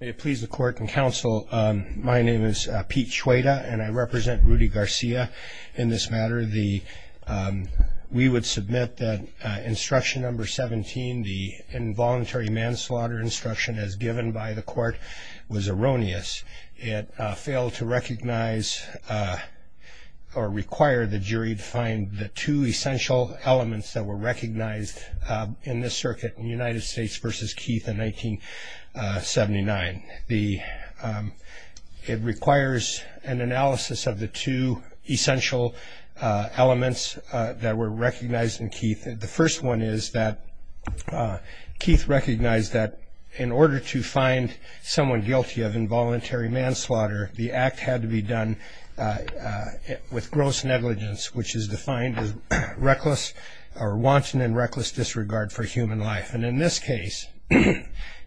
May it please the court and counsel, my name is Pete Chueda and I represent Rudy Garcia in this matter. We would submit that instruction number 17, the involuntary manslaughter instruction as given by the court, was erroneous. It failed to recognize or require the jury to find the two essential elements that were recognized in this circuit in United States v. Keith in 1979. It requires an analysis of the two essential elements that were recognized in Keith. The first one is that Keith recognized that in order to find someone guilty of involuntary manslaughter, the act had to be done with gross negligence, which is defined as wanton and reckless disregard for human life. In this case,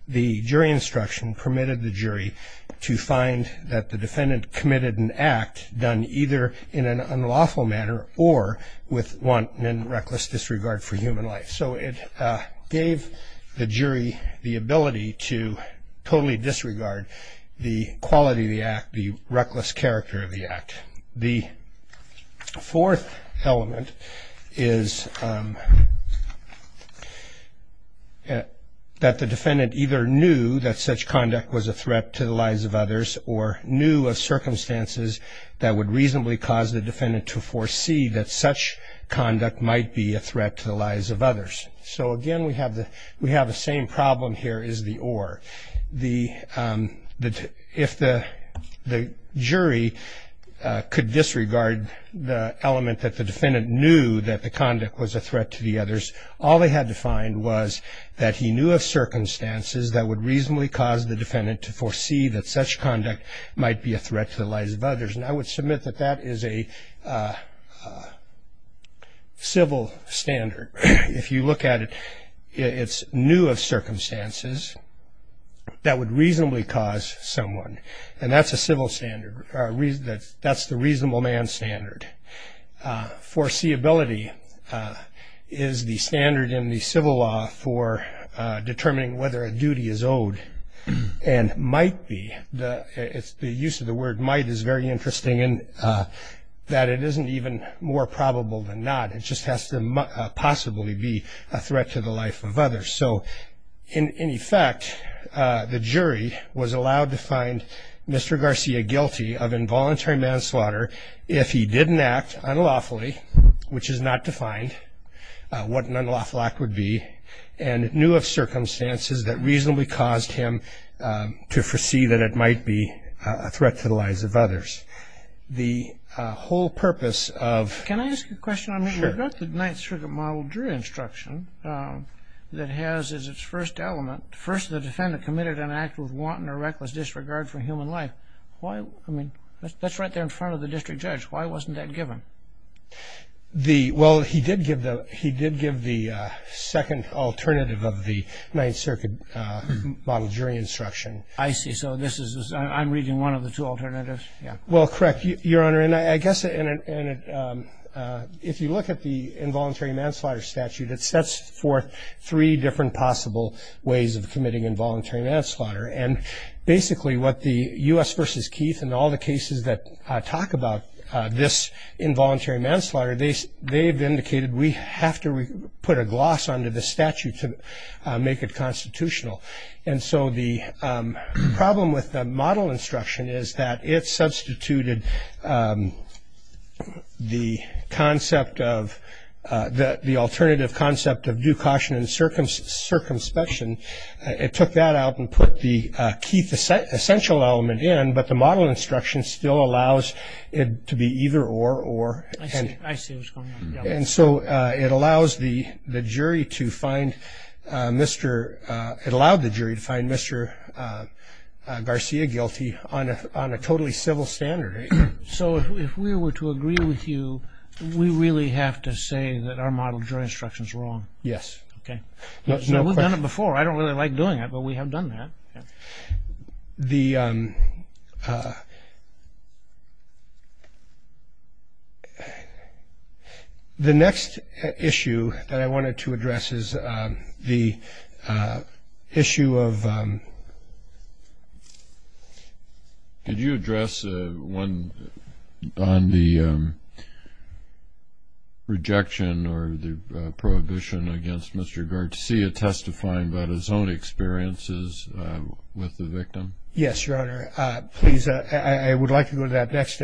the jury instruction permitted the jury to find that the defendant committed an act done either in an unlawful manner or with wanton and reckless disregard for human life. So it gave the jury the ability to totally disregard the quality of the act, the reckless character of the act. The fourth element is that the defendant either knew that such conduct was a threat to the lives of others or knew of circumstances that would reasonably cause the defendant to foresee that such conduct might be a threat to the lives of others. So, again, we have the same problem here as the or. If the jury could disregard the element that the defendant knew that the conduct was a threat to the others, all they had to find was that he knew of circumstances that would reasonably cause the defendant to foresee that such conduct might be a threat to the lives of others. And I would submit that that is a civil standard. If you look at it, it's knew of circumstances that would reasonably cause someone. And that's a civil standard. That's the reasonable man standard. Foreseeability is the standard in the civil law for determining whether a duty is owed and might be. The use of the word might is very interesting in that it isn't even more probable than not. It just has to possibly be a threat to the life of others. So in effect, the jury was allowed to find Mr. Garcia guilty of involuntary manslaughter if he didn't act unlawfully, which is not defined, what an unlawful act would be, and knew of circumstances that reasonably caused him to foresee that it might be a threat to the lives of others. The whole purpose of... Can I ask a question? Sure. I mean, we've got the Ninth Circuit Model jury instruction that has as its first element, first the defendant committed an act with wanton or reckless disregard for human life. That's right there in front of the district judge. Why wasn't that given? Well, he did give the second alternative of the Ninth Circuit Model jury instruction. I see. So I'm reading one of the two alternatives. Well, correct, Your Honor. And I guess if you look at the involuntary manslaughter statute, it sets forth three different possible ways of committing involuntary manslaughter. And basically what the U.S. v. Keith and all the cases that talk about this involuntary manslaughter, they've indicated we have to put a gloss onto the statute to make it constitutional. And so the problem with the model instruction is that it substituted the concept of the alternative concept of due caution and circumspection. And it took that out and put the Keith essential element in, but the model instruction still allows it to be either or. I see what's going on. And so it allowed the jury to find Mr. Garcia guilty on a totally civil standard. So if we were to agree with you, we really have to say that our model jury instruction is wrong? Yes. Okay. No question. No, we've done it before. I don't really like doing it, but we have done that. The next issue that I wanted to address is the issue of – rejection or the prohibition against Mr. Garcia testifying about his own experiences with the victim. Yes, Your Honor. Please, I would like to go to that next.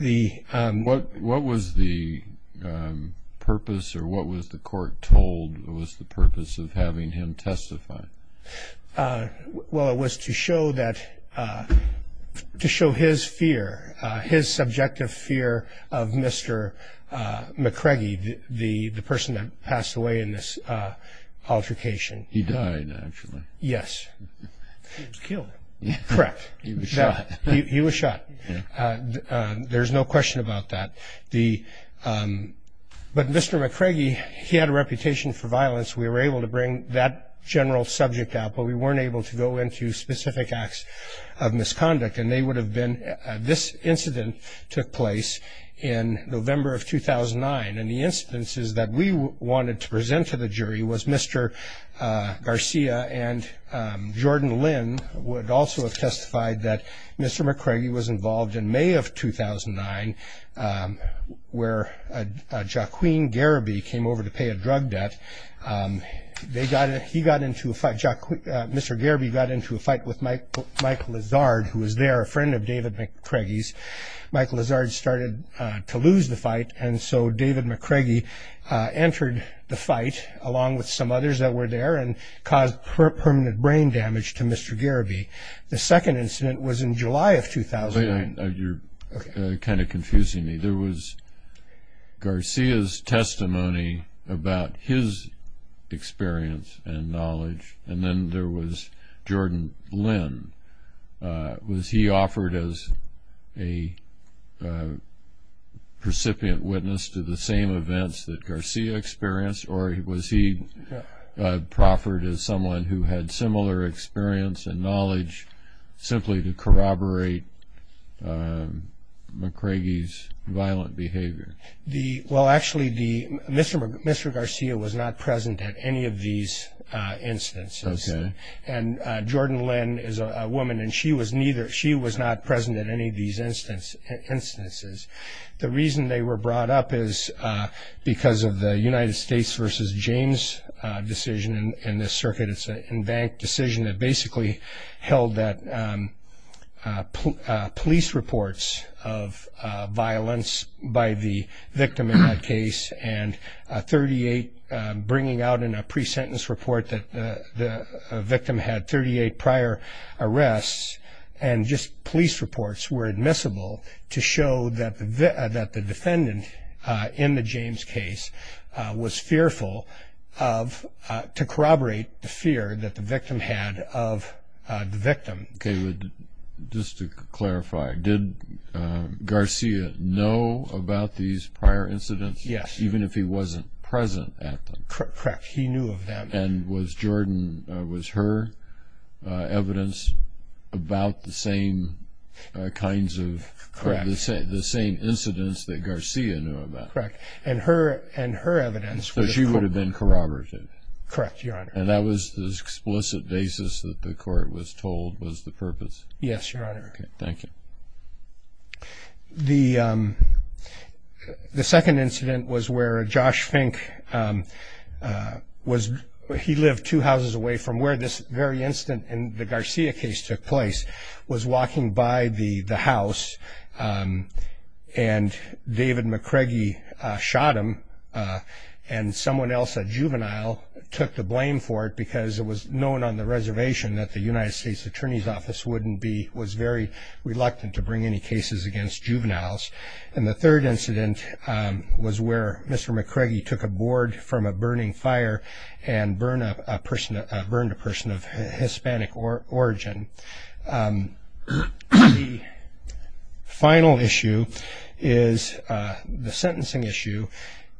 What was the purpose or what was the court told was the purpose of having him testify? Well, it was to show his fear, his subjective fear of Mr. McCraggy, the person that passed away in this altercation. He died, actually. Yes. He was killed. Correct. He was shot. He was shot. There's no question about that. But Mr. McCraggy, he had a reputation for violence. We were able to bring that general subject out, but we weren't able to go into specific acts of misconduct, and they would have been – this incident took place in November of 2009, and the instances that we wanted to present to the jury was Mr. Garcia and Jordan Lynn would also have testified that Mr. McCraggy was involved in May of 2009 where Joaquin Gariby came over to pay a drug debt. They got – he got into a fight – Mr. Gariby got into a fight with Mike Lazard, who was there, a friend of David McCraggy's. Mike Lazard started to lose the fight, and so David McCraggy entered the fight along with some others that were there and caused permanent brain damage to Mr. Gariby. The second incident was in July of 2009. You're kind of confusing me. There was Garcia's testimony about his experience and knowledge, and then there was Jordan Lynn. Was he offered as a precipient witness to the same events that Garcia experienced, or was he proffered as someone who had similar experience and knowledge simply to corroborate McCraggy's violent behavior? Well, actually, Mr. Garcia was not present at any of these instances. Okay. And Jordan Lynn is a woman, and she was neither. She was not present at any of these instances. The reason they were brought up is because of the United States versus James decision in this circuit. It's an embanked decision that basically held that police reports of violence by the victim in that case and 38 bringing out in a pre-sentence report that the victim had 38 prior arrests and just police reports were admissible to show that the defendant in the James case was fearful of to corroborate the fear that the victim had of the victim. Okay. Just to clarify, did Garcia know about these prior incidents? Yes. Even if he wasn't present at them? Correct. He knew of them. And was Jordan, was her evidence about the same kinds of, the same incidents that Garcia knew about? Correct. And her evidence. So she would have been corroborated? Correct, Your Honor. And that was the explicit basis that the court was told was the purpose? Yes, Your Honor. Okay, thank you. The second incident was where Josh Fink was, he lived two houses away from where this very incident in the Garcia case took place, was walking by the house and David McCraggy shot him and someone else, a juvenile, took the blame for it because it was known on the reservation that the United States Attorney's Office wouldn't be, was very reluctant to bring any cases against juveniles. And the third incident was where Mr. McCraggy took a board from a burning fire and burned a person of Hispanic origin. The final issue is the sentencing issue.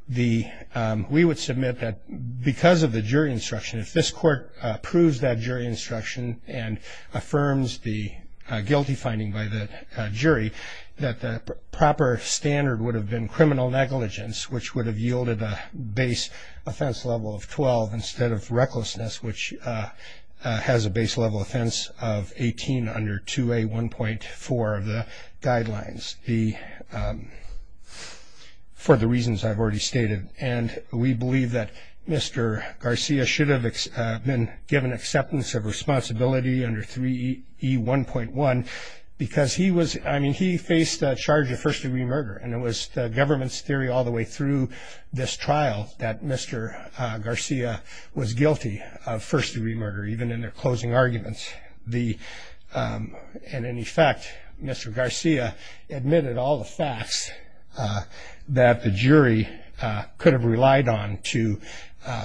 We would submit that because of the jury instruction, if this court approves that jury instruction and affirms the guilty finding by the jury, that the proper standard would have been criminal negligence, which would have yielded a base offense level of 12 instead of recklessness, which has a base level offense of 18 under 2A1.4 of the guidelines, for the reasons I've already stated. And we believe that Mr. Garcia should have been given acceptance of responsibility under 3E1.1 because he was, I mean, he faced a charge of first degree murder and it was the government's theory all the way through this trial that Mr. Garcia was guilty of first degree murder, even in their closing arguments. And in effect, Mr. Garcia admitted all the facts that the jury could have relied on to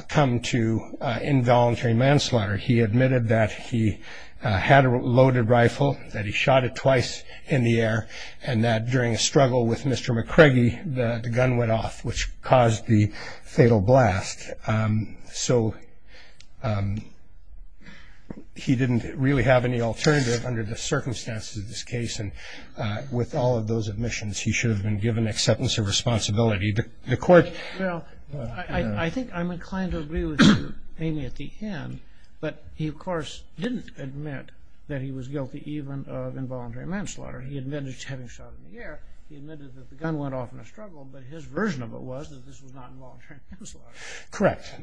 come to involuntary manslaughter. He admitted that he had a loaded rifle, that he shot it twice in the air, and that during a struggle with Mr. McCraggy, the gun went off, which caused the fatal blast. So he didn't really have any alternative under the circumstances of this case. And with all of those admissions, he should have been given acceptance of responsibility. The Court ---- Well, I think I'm inclined to agree with you, Amy, at the end. But he, of course, didn't admit that he was guilty even of involuntary manslaughter. He admitted to having shot it in the air. He admitted that the gun went off in a struggle. But his version of it was that this was not involuntary manslaughter. Correct.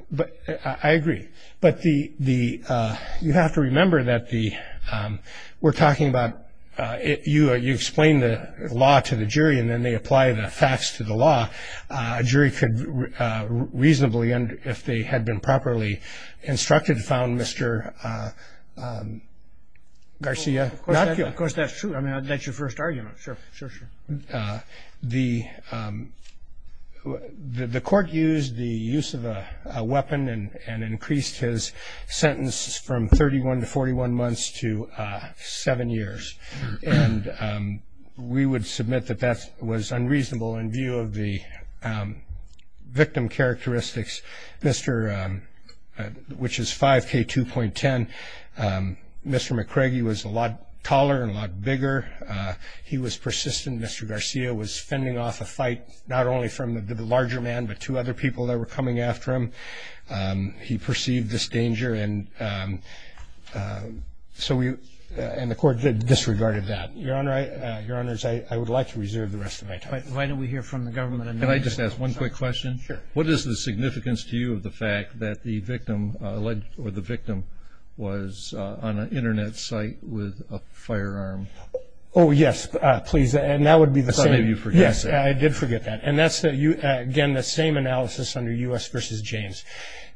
I agree. But you have to remember that we're talking about you explain the law to the jury and then they apply the facts to the law. A jury could reasonably, if they had been properly instructed, found Mr. Garcia not guilty. Of course, that's true. I mean, that's your first argument. Sure, sure, sure. The Court used the use of a weapon and increased his sentence from 31 to 41 months to seven years. And we would submit that that was unreasonable in view of the victim characteristics, which is 5K2.10. Mr. McCraggy was a lot taller and a lot bigger. He was persistent. Mr. Garcia was fending off a fight not only from the larger man but two other people that were coming after him. He perceived this danger, and the Court disregarded that. Your Honors, I would like to reserve the rest of my time. Why don't we hear from the government? Can I just ask one quick question? Sure. What is the significance to you of the fact that the victim was on an Internet site with a firearm? Oh, yes, please. And that would be the same. I thought maybe you forgot that. Yes, I did forget that. And that's, again, the same analysis under U.S. v. James,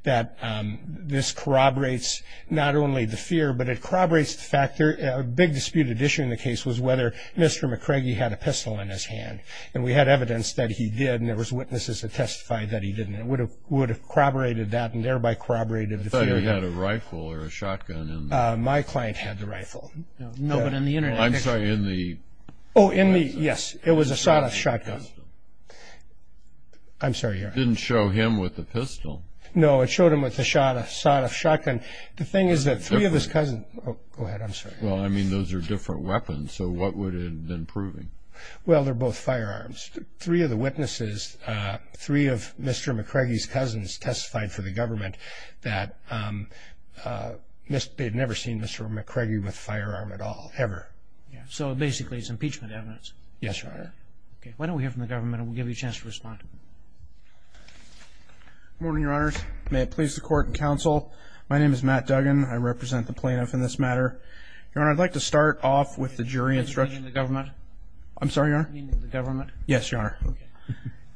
that this corroborates not only the fear but it corroborates the fact that a big disputed issue in the case was whether Mr. McCraggy had a pistol in his hand. And we had evidence that he did, and there was witnesses that testified that he didn't. It would have corroborated that and thereby corroborated the fear. I thought he had a rifle or a shotgun in there. My client had the rifle. No, but in the Internet. I'm sorry, in the... Oh, in the... Yes, it was a sawed-off shotgun. I'm sorry. It didn't show him with a pistol. No, it showed him with a sawed-off shotgun. The thing is that three of his cousins... Go ahead. I'm sorry. Well, I mean, those are different weapons, so what would it have been proving? Well, they're both firearms. Three of the witnesses, three of Mr. McCraggy's cousins, testified for the government that they had never seen Mr. McCraggy with a firearm at all, ever. So basically it's impeachment evidence. Yes, Your Honor. Okay. Why don't we hear from the government and we'll give you a chance to respond. Good morning, Your Honors. May it please the Court and Counsel, my name is Matt Duggan. I represent the plaintiff in this matter. Your Honor, I'd like to start off with the jury instruction. Meaning the government? I'm sorry, Your Honor? Meaning the government? Yes, Your Honor. Okay.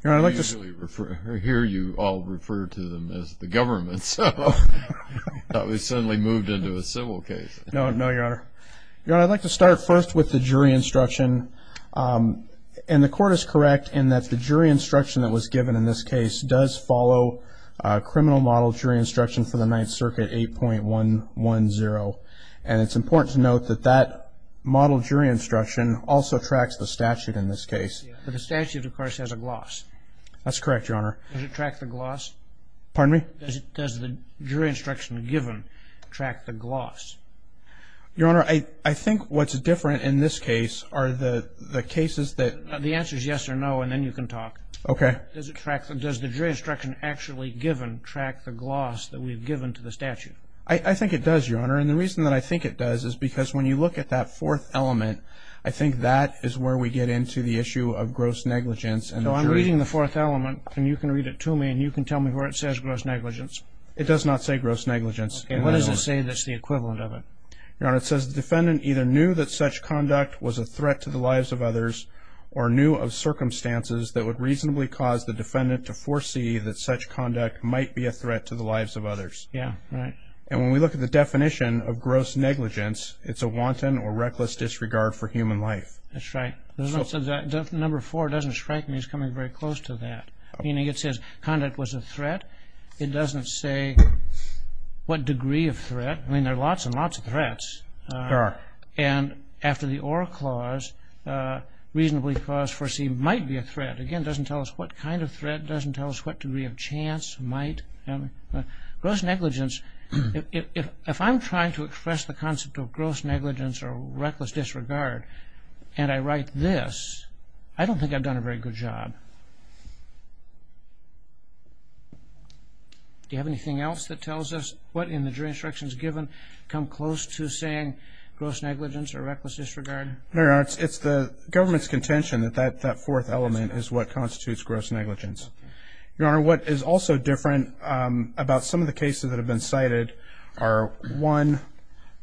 I hear you all refer to them as the government, so I thought we suddenly moved into a civil case. No, Your Honor. Your Honor, I'd like to start first with the jury instruction. And the Court is correct in that the jury instruction that was given in this case does follow criminal model jury instruction for the Ninth Circuit, 8.110. And it's important to note that that model jury instruction also tracks the statute in this case. But the statute, of course, has a gloss. That's correct, Your Honor. Does it track the gloss? Pardon me? Does the jury instruction given track the gloss? Your Honor, I think what's different in this case are the cases that... The answer is yes or no, and then you can talk. Okay. Does the jury instruction actually given track the gloss that we've given to the statute? I think it does, Your Honor. And the reason that I think it does is because when you look at that fourth element, I think that is where we get into the issue of gross negligence. So I'm reading the fourth element, and you can read it to me, and you can tell me where it says gross negligence. It does not say gross negligence. Okay. What does it say that's the equivalent of it? Your Honor, it says the defendant either knew that such conduct was a threat to the lives of others or knew of circumstances that would reasonably cause the defendant to foresee that such conduct might be a threat to the lives of others. Yeah, right. And when we look at the definition of gross negligence, it's a wanton or reckless disregard for human life. That's right. Number four doesn't strike me as coming very close to that. Meaning it says conduct was a threat. It doesn't say what degree of threat. I mean, there are lots and lots of threats. There are. And after the or clause, reasonably cause foreseen might be a threat. Again, it doesn't tell us what kind of threat. It doesn't tell us what degree of chance, might. Gross negligence, if I'm trying to express the concept of gross negligence or reckless disregard and I write this, I don't think I've done a very good job. Do you have anything else that tells us what in the jury instructions given come close to saying gross negligence or reckless disregard? No, Your Honor. It's the government's contention that that fourth element is what constitutes gross negligence. Your Honor, what is also different about some of the cases that have been cited are, one,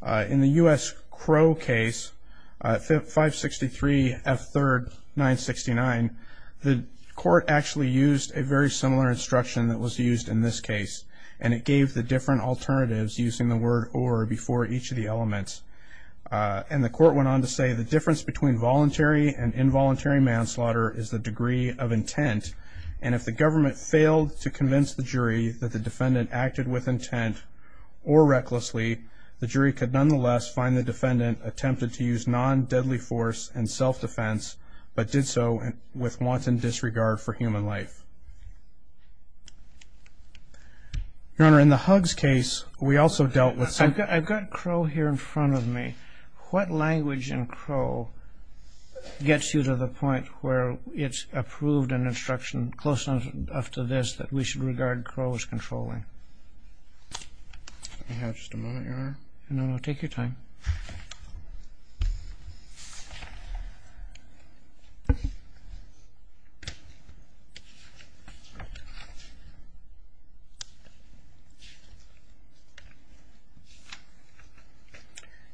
in the U.S. Crow case, 563 F3rd 969, the court actually used a very similar instruction that was used in this case, and it gave the different alternatives using the word or before each of the elements. And the court went on to say the difference between voluntary And if the government failed to convince the jury that the defendant acted with intent or recklessly, the jury could nonetheless find the defendant attempted to use non-deadly force and self-defense, but did so with wanton disregard for human life. Your Honor, in the Huggs case, we also dealt with some- I've got Crow here in front of me. What language in Crow gets you to the point where it's approved in instruction close enough to this that we should regard Crow as controlling? Let me have just a moment, Your Honor. No, no, take your time.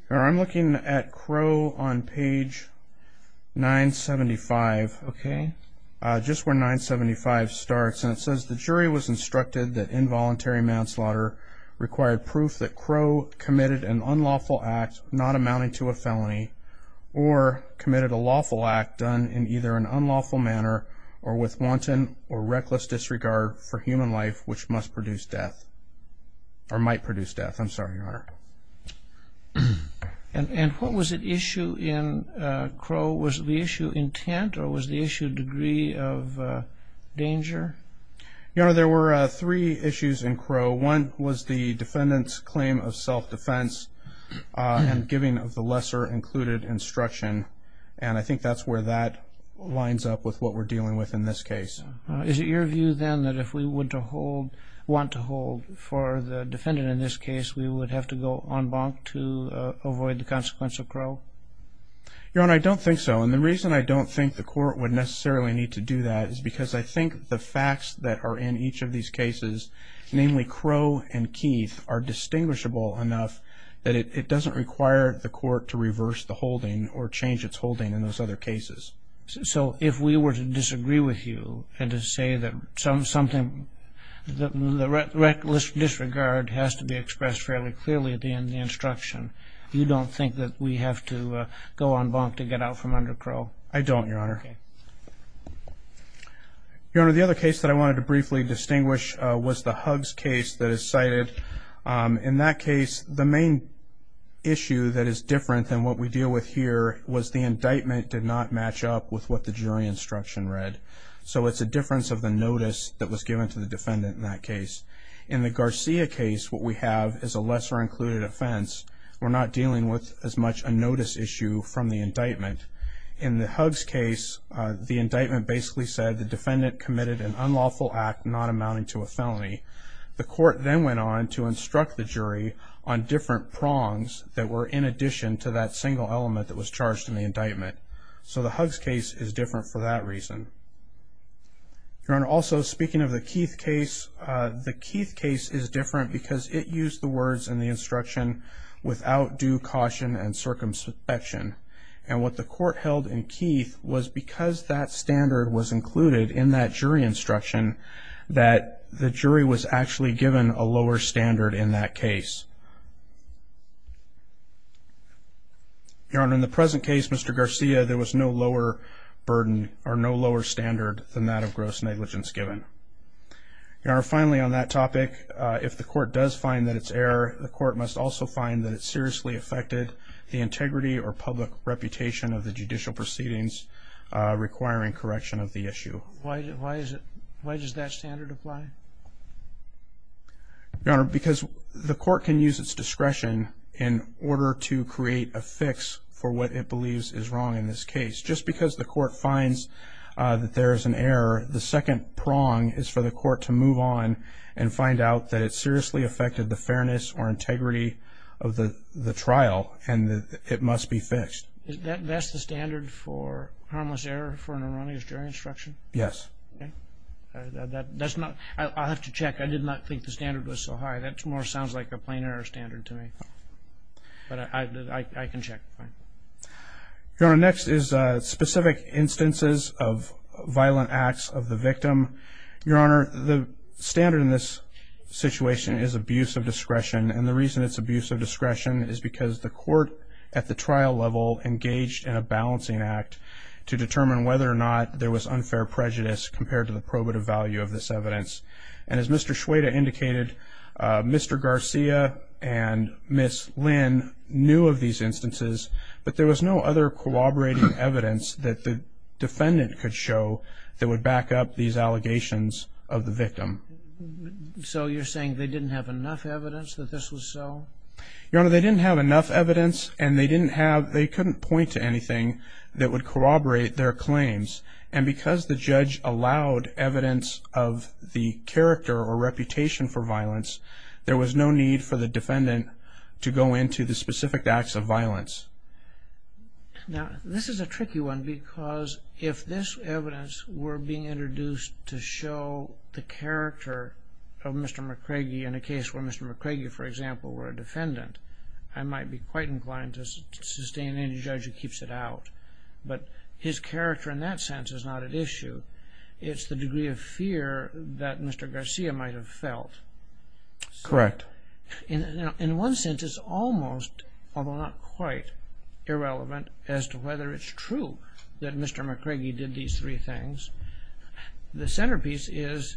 Your Honor, I'm looking at Crow on page 975, okay, just where 975 starts, that involuntary manslaughter required proof that Crow committed an unlawful act not amounting to a felony or committed a lawful act done in either an unlawful manner or with wanton or reckless disregard for human life which must produce death or might produce death. I'm sorry, Your Honor. And what was at issue in Crow? Was the issue intent or was the issue degree of danger? Your Honor, there were three issues in Crow. One was the defendant's claim of self-defense and giving of the lesser included instruction, and I think that's where that lines up with what we're dealing with in this case. Is it your view then that if we want to hold for the defendant in this case, we would have to go en banc to avoid the consequence of Crow? Your Honor, I don't think so, and the reason I don't think the court would necessarily need to do that is because I think the facts that are in each of these cases, namely Crow and Keith, are distinguishable enough that it doesn't require the court to reverse the holding or change its holding in those other cases. So if we were to disagree with you and to say that something, the reckless disregard has to be expressed fairly clearly at the end of the instruction, you don't think that we have to go en banc to get out from under Crow? I don't, Your Honor. Okay. Your Honor, the other case that I wanted to briefly distinguish was the Huggs case that is cited. In that case, the main issue that is different than what we deal with here was the indictment did not match up with what the jury instruction read. So it's a difference of the notice that was given to the defendant in that case. In the Garcia case, what we have is a lesser included offense. We're not dealing with as much a notice issue from the indictment. In the Huggs case, the indictment basically said the defendant committed an unlawful act not amounting to a felony. The court then went on to instruct the jury on different prongs that were in addition to that single element that was charged in the indictment. Your Honor, also speaking of the Keith case, the Keith case is different because it used the words in the instruction, without due caution and circumspection. And what the court held in Keith was because that standard was included in that jury instruction that the jury was actually given a lower standard in that case. Your Honor, in the present case, Mr. Garcia, there was no lower burden or no lower standard than that of gross negligence given. Your Honor, finally on that topic, if the court does find that it's error, the court must also find that it seriously affected the integrity or public reputation of the judicial proceedings requiring correction of the issue. Why does that standard apply? Your Honor, because the court can use its discretion in order to create a fix for what it believes is wrong in this case. Just because the court finds that there is an error, the second prong is for the court to move on and find out that it seriously affected the fairness or integrity of the trial and it must be fixed. That's the standard for harmless error for an erroneous jury instruction? Yes. I'll have to check. I did not think the standard was so high. That more sounds like a plain error standard to me. But I can check. Your Honor, next is specific instances of violent acts of the victim. Your Honor, the standard in this situation is abuse of discretion, and the reason it's abuse of discretion is because the court at the trial level engaged in a balancing act to determine whether or not there was unfair prejudice compared to the probative value of this evidence. And as Mr. Schweda indicated, Mr. Garcia and Ms. Lynn knew of these instances, but there was no other corroborating evidence that the defendant could show that would back up these allegations of the victim. So you're saying they didn't have enough evidence that this was so? Your Honor, they didn't have enough evidence and they couldn't point to anything that would corroborate their claims. And because the judge allowed evidence of the character or reputation for violence, there was no need for the defendant to go into the specific acts of violence. Now, this is a tricky one because if this evidence were being introduced to show the character of Mr. McCraggy in a case where Mr. McCraggy, for example, were a defendant, I might be quite inclined to sustain any judge who keeps it out. But his character in that sense is not at issue. It's the degree of fear that Mr. Garcia might have felt. Correct. In one sense, it's almost, although not quite, irrelevant as to whether it's true that Mr. McCraggy did these three things. The centerpiece is,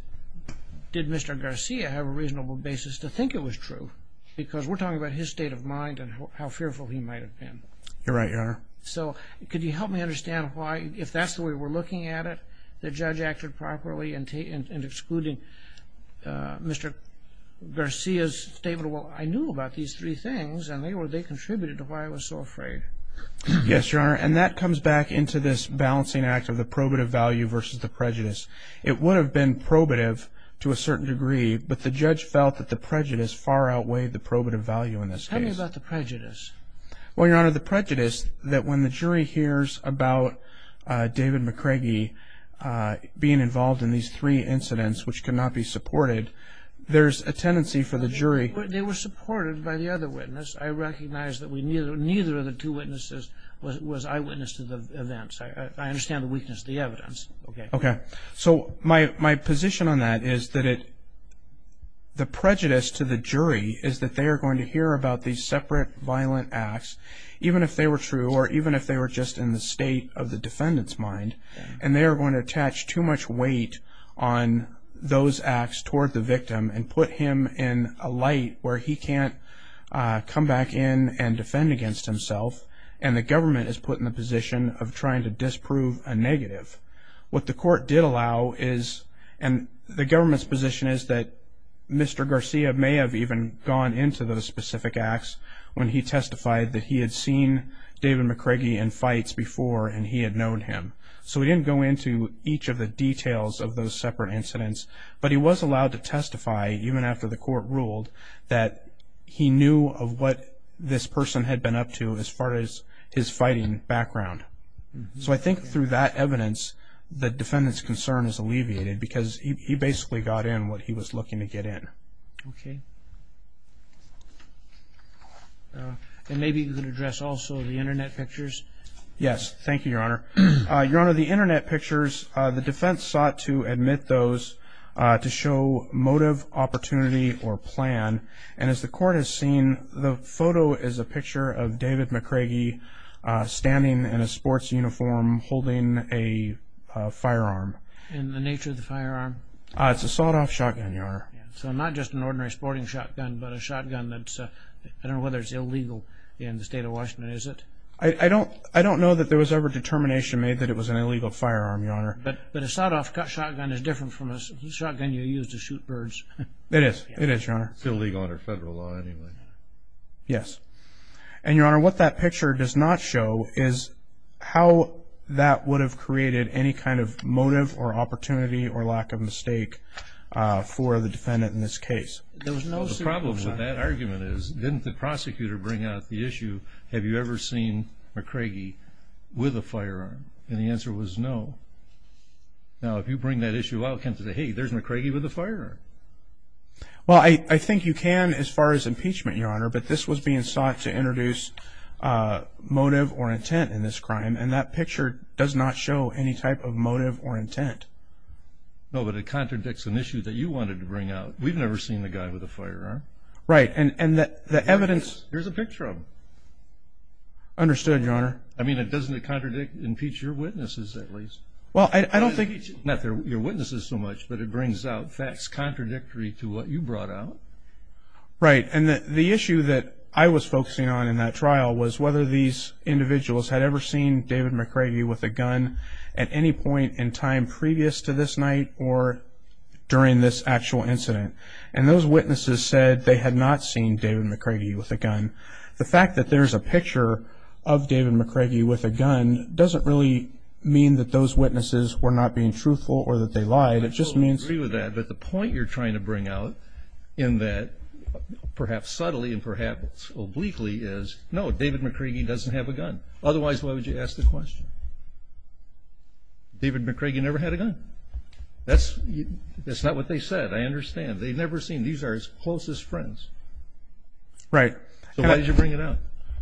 did Mr. Garcia have a reasonable basis to think it was true? Because we're talking about his state of mind and how fearful he might have been. You're right, Your Honor. So could you help me understand why, if that's the way we're looking at it, the judge acted properly in excluding Mr. Garcia's statement, well, I knew about these three things and they contributed to why I was so afraid. Yes, Your Honor, and that comes back into this balancing act of the probative value versus the prejudice. It would have been probative to a certain degree, but the judge felt that the prejudice far outweighed the probative value in this case. Tell me about the prejudice. Well, Your Honor, the prejudice that when the jury hears about David McCraggy being involved in these three incidents, which could not be supported, there's a tendency for the jury. They were supported by the other witness. I recognize that neither of the two witnesses was eyewitness to the events. I understand the weakness of the evidence. Okay. Okay. So my position on that is that the prejudice to the jury is that they are going to hear about these separate violent acts, even if they were true or even if they were just in the state of the defendant's mind, and they are going to attach too much weight on those acts toward the victim and put him in a light where he can't come back in and defend against himself, and the government is put in the position of trying to disprove a negative. What the court did allow is, and the government's position is, that Mr. Garcia may have even gone into those specific acts when he testified that he had seen David McCraggy in fights before and he had known him. So he didn't go into each of the details of those separate incidents, but he was allowed to testify, even after the court ruled, that he knew of what this person had been up to as far as his fighting background. So I think through that evidence, the defendant's concern is alleviated because he basically got in what he was looking to get in. Okay. And maybe you can address also the Internet pictures. Yes. Thank you, Your Honor. Your Honor, the Internet pictures, the defense sought to admit those to show motive, opportunity, or plan, and as the court has seen, the photo is a picture of David McCraggy standing in a sports uniform holding a firearm. And the nature of the firearm? It's a sawed-off shotgun, Your Honor. So not just an ordinary sporting shotgun, but a shotgun that's, I don't know whether it's illegal in the state of Washington, is it? I don't know that there was ever determination made that it was an illegal firearm, Your Honor. But a sawed-off shotgun is different from a shotgun you use to shoot birds. It is. It is, Your Honor. It's illegal under federal law anyway. Yes. And, Your Honor, what that picture does not show is how that would have created any kind of motive or opportunity or lack of mistake for the defendant in this case. The problem with that argument is didn't the prosecutor bring out the issue, have you ever seen McCraggy with a firearm? And the answer was no. Now, if you bring that issue out, can't you say, hey, there's McCraggy with a firearm? Well, I think you can as far as impeachment, Your Honor, but this was being sought to introduce motive or intent in this crime, and that picture does not show any type of motive or intent. No, but it contradicts an issue that you wanted to bring out. We've never seen the guy with a firearm. Right. And the evidence ---- Here's a picture of him. Understood, Your Honor. I mean, doesn't it contradict, impeach your witnesses at least? Well, I don't think ---- Not your witnesses so much, but it brings out facts contradictory to what you brought out. Right. And the issue that I was focusing on in that trial was whether these individuals had ever seen David McCraggy with a gun at any point in time previous to this night or during this actual incident. And those witnesses said they had not seen David McCraggy with a gun. The fact that there's a picture of David McCraggy with a gun doesn't really mean that those witnesses were not being truthful or that they lied. It just means ---- I totally agree with that. But the point you're trying to bring out in that perhaps subtly and perhaps obliquely is, no, David McCraggy doesn't have a gun. Otherwise, why would you ask the question? David McCraggy never had a gun. That's not what they said. I understand. They've never seen him. These are his closest friends. Right. So why did you bring it up?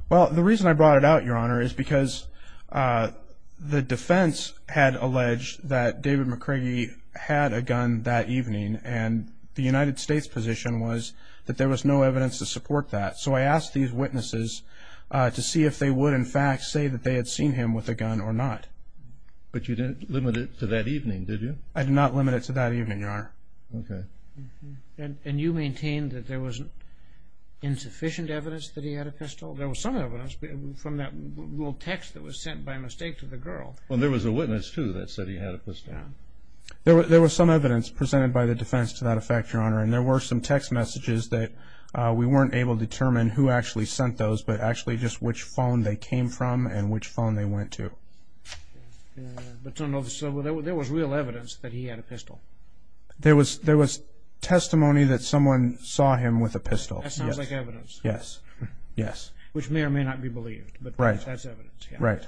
Well, the reason I brought it out, Your Honor, is because the defense had alleged that David McCraggy had a gun that evening, and the United States position was that there was no evidence to support that. So I asked these witnesses to see if they would, in fact, say that they had seen him with a gun or not. But you didn't limit it to that evening, did you? I did not limit it to that evening, Your Honor. Okay. And you maintained that there was insufficient evidence that he had a pistol? There was some evidence from that little text that was sent by mistake to the girl. Well, there was a witness, too, that said he had a pistol. There was some evidence presented by the defense to that effect, Your Honor, and there were some text messages that we weren't able to determine who actually sent those but actually just which phone they came from and which phone they went to. So there was real evidence that he had a pistol? There was testimony that someone saw him with a pistol. That sounds like evidence. Yes. Yes. Which may or may not be believed. Right. But that's evidence. Right.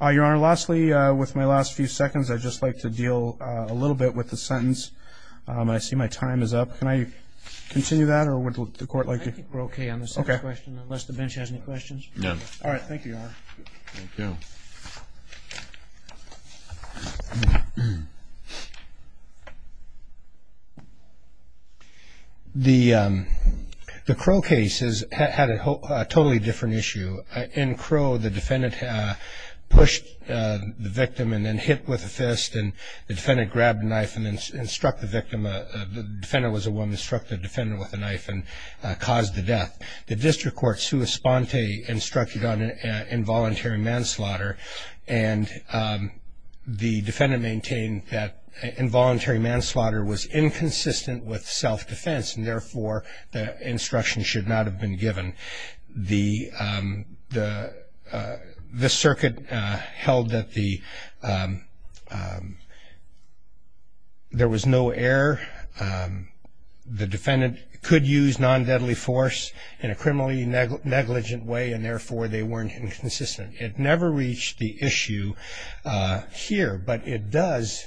Your Honor, lastly, with my last few seconds, I'd just like to deal a little bit with the sentence. I see my time is up. Can I continue that, or would the Court like to? I think we're okay on the second question, unless the bench has any questions. None. All right. Thank you, Your Honor. Thank you. The Crow case had a totally different issue. In Crow, the defendant pushed the victim and then hit with a fist, and the defendant grabbed a knife and then struck the victim. The defendant was a woman, struck the defendant with a knife and caused the death. The district court, sua sponte, instructed on involuntary manslaughter, and the defendant maintained that involuntary manslaughter was inconsistent with self-defense and, therefore, the instruction should not have been given. The circuit held that there was no error. The defendant could use non-deadly force in a criminally negligent way, and, therefore, they weren't inconsistent. It never reached the issue here, but it does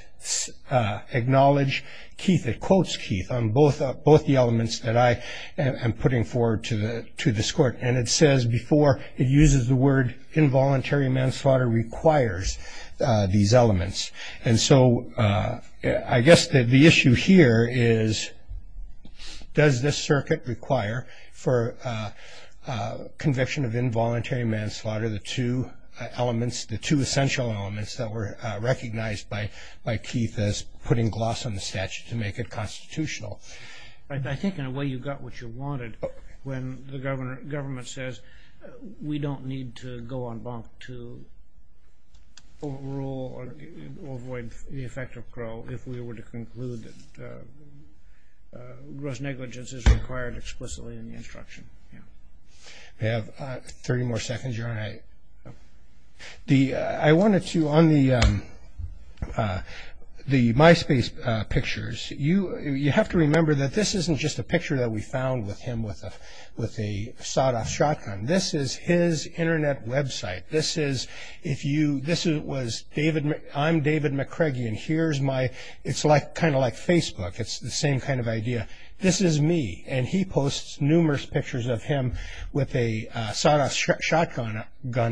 acknowledge Keith. It quotes Keith on both the elements that I am putting forward to this Court, and it says before it uses the word involuntary manslaughter requires these elements. And so I guess the issue here is, does this circuit require for conviction of involuntary manslaughter, the two elements, the two essential elements that were recognized by Keith as putting gloss on the statute to make it constitutional? I think, in a way, you got what you wanted. But when the government says we don't need to go on bonk to rule or avoid the effect of parole if we were to conclude that gross negligence is required explicitly in the instruction. We have 30 more seconds. I wanted to, on the MySpace pictures, you have to remember that this isn't just a picture that we found with him with a sawed-off shotgun. This is his Internet website. This is, if you, this was, I'm David McCreggie, and here's my, it's kind of like Facebook. It's the same kind of idea. This is me, and he posts numerous pictures of him with a sawed-off shotgun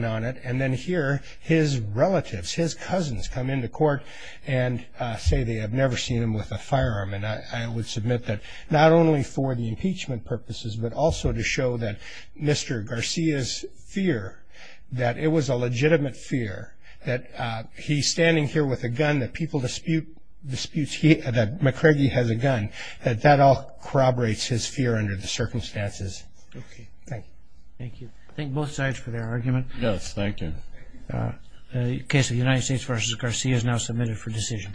on it, and then here his relatives, his cousins come into court and say they have never seen him with a firearm. And I would submit that not only for the impeachment purposes, but also to show that Mr. Garcia's fear that it was a legitimate fear, that he's standing here with a gun, that people dispute that McCreggie has a gun, that that all corroborates his fear under the circumstances. Thank you. Thank you. Thank both sides for their argument. Yes, thank you. The case of United States v. Garcia is now submitted for decision.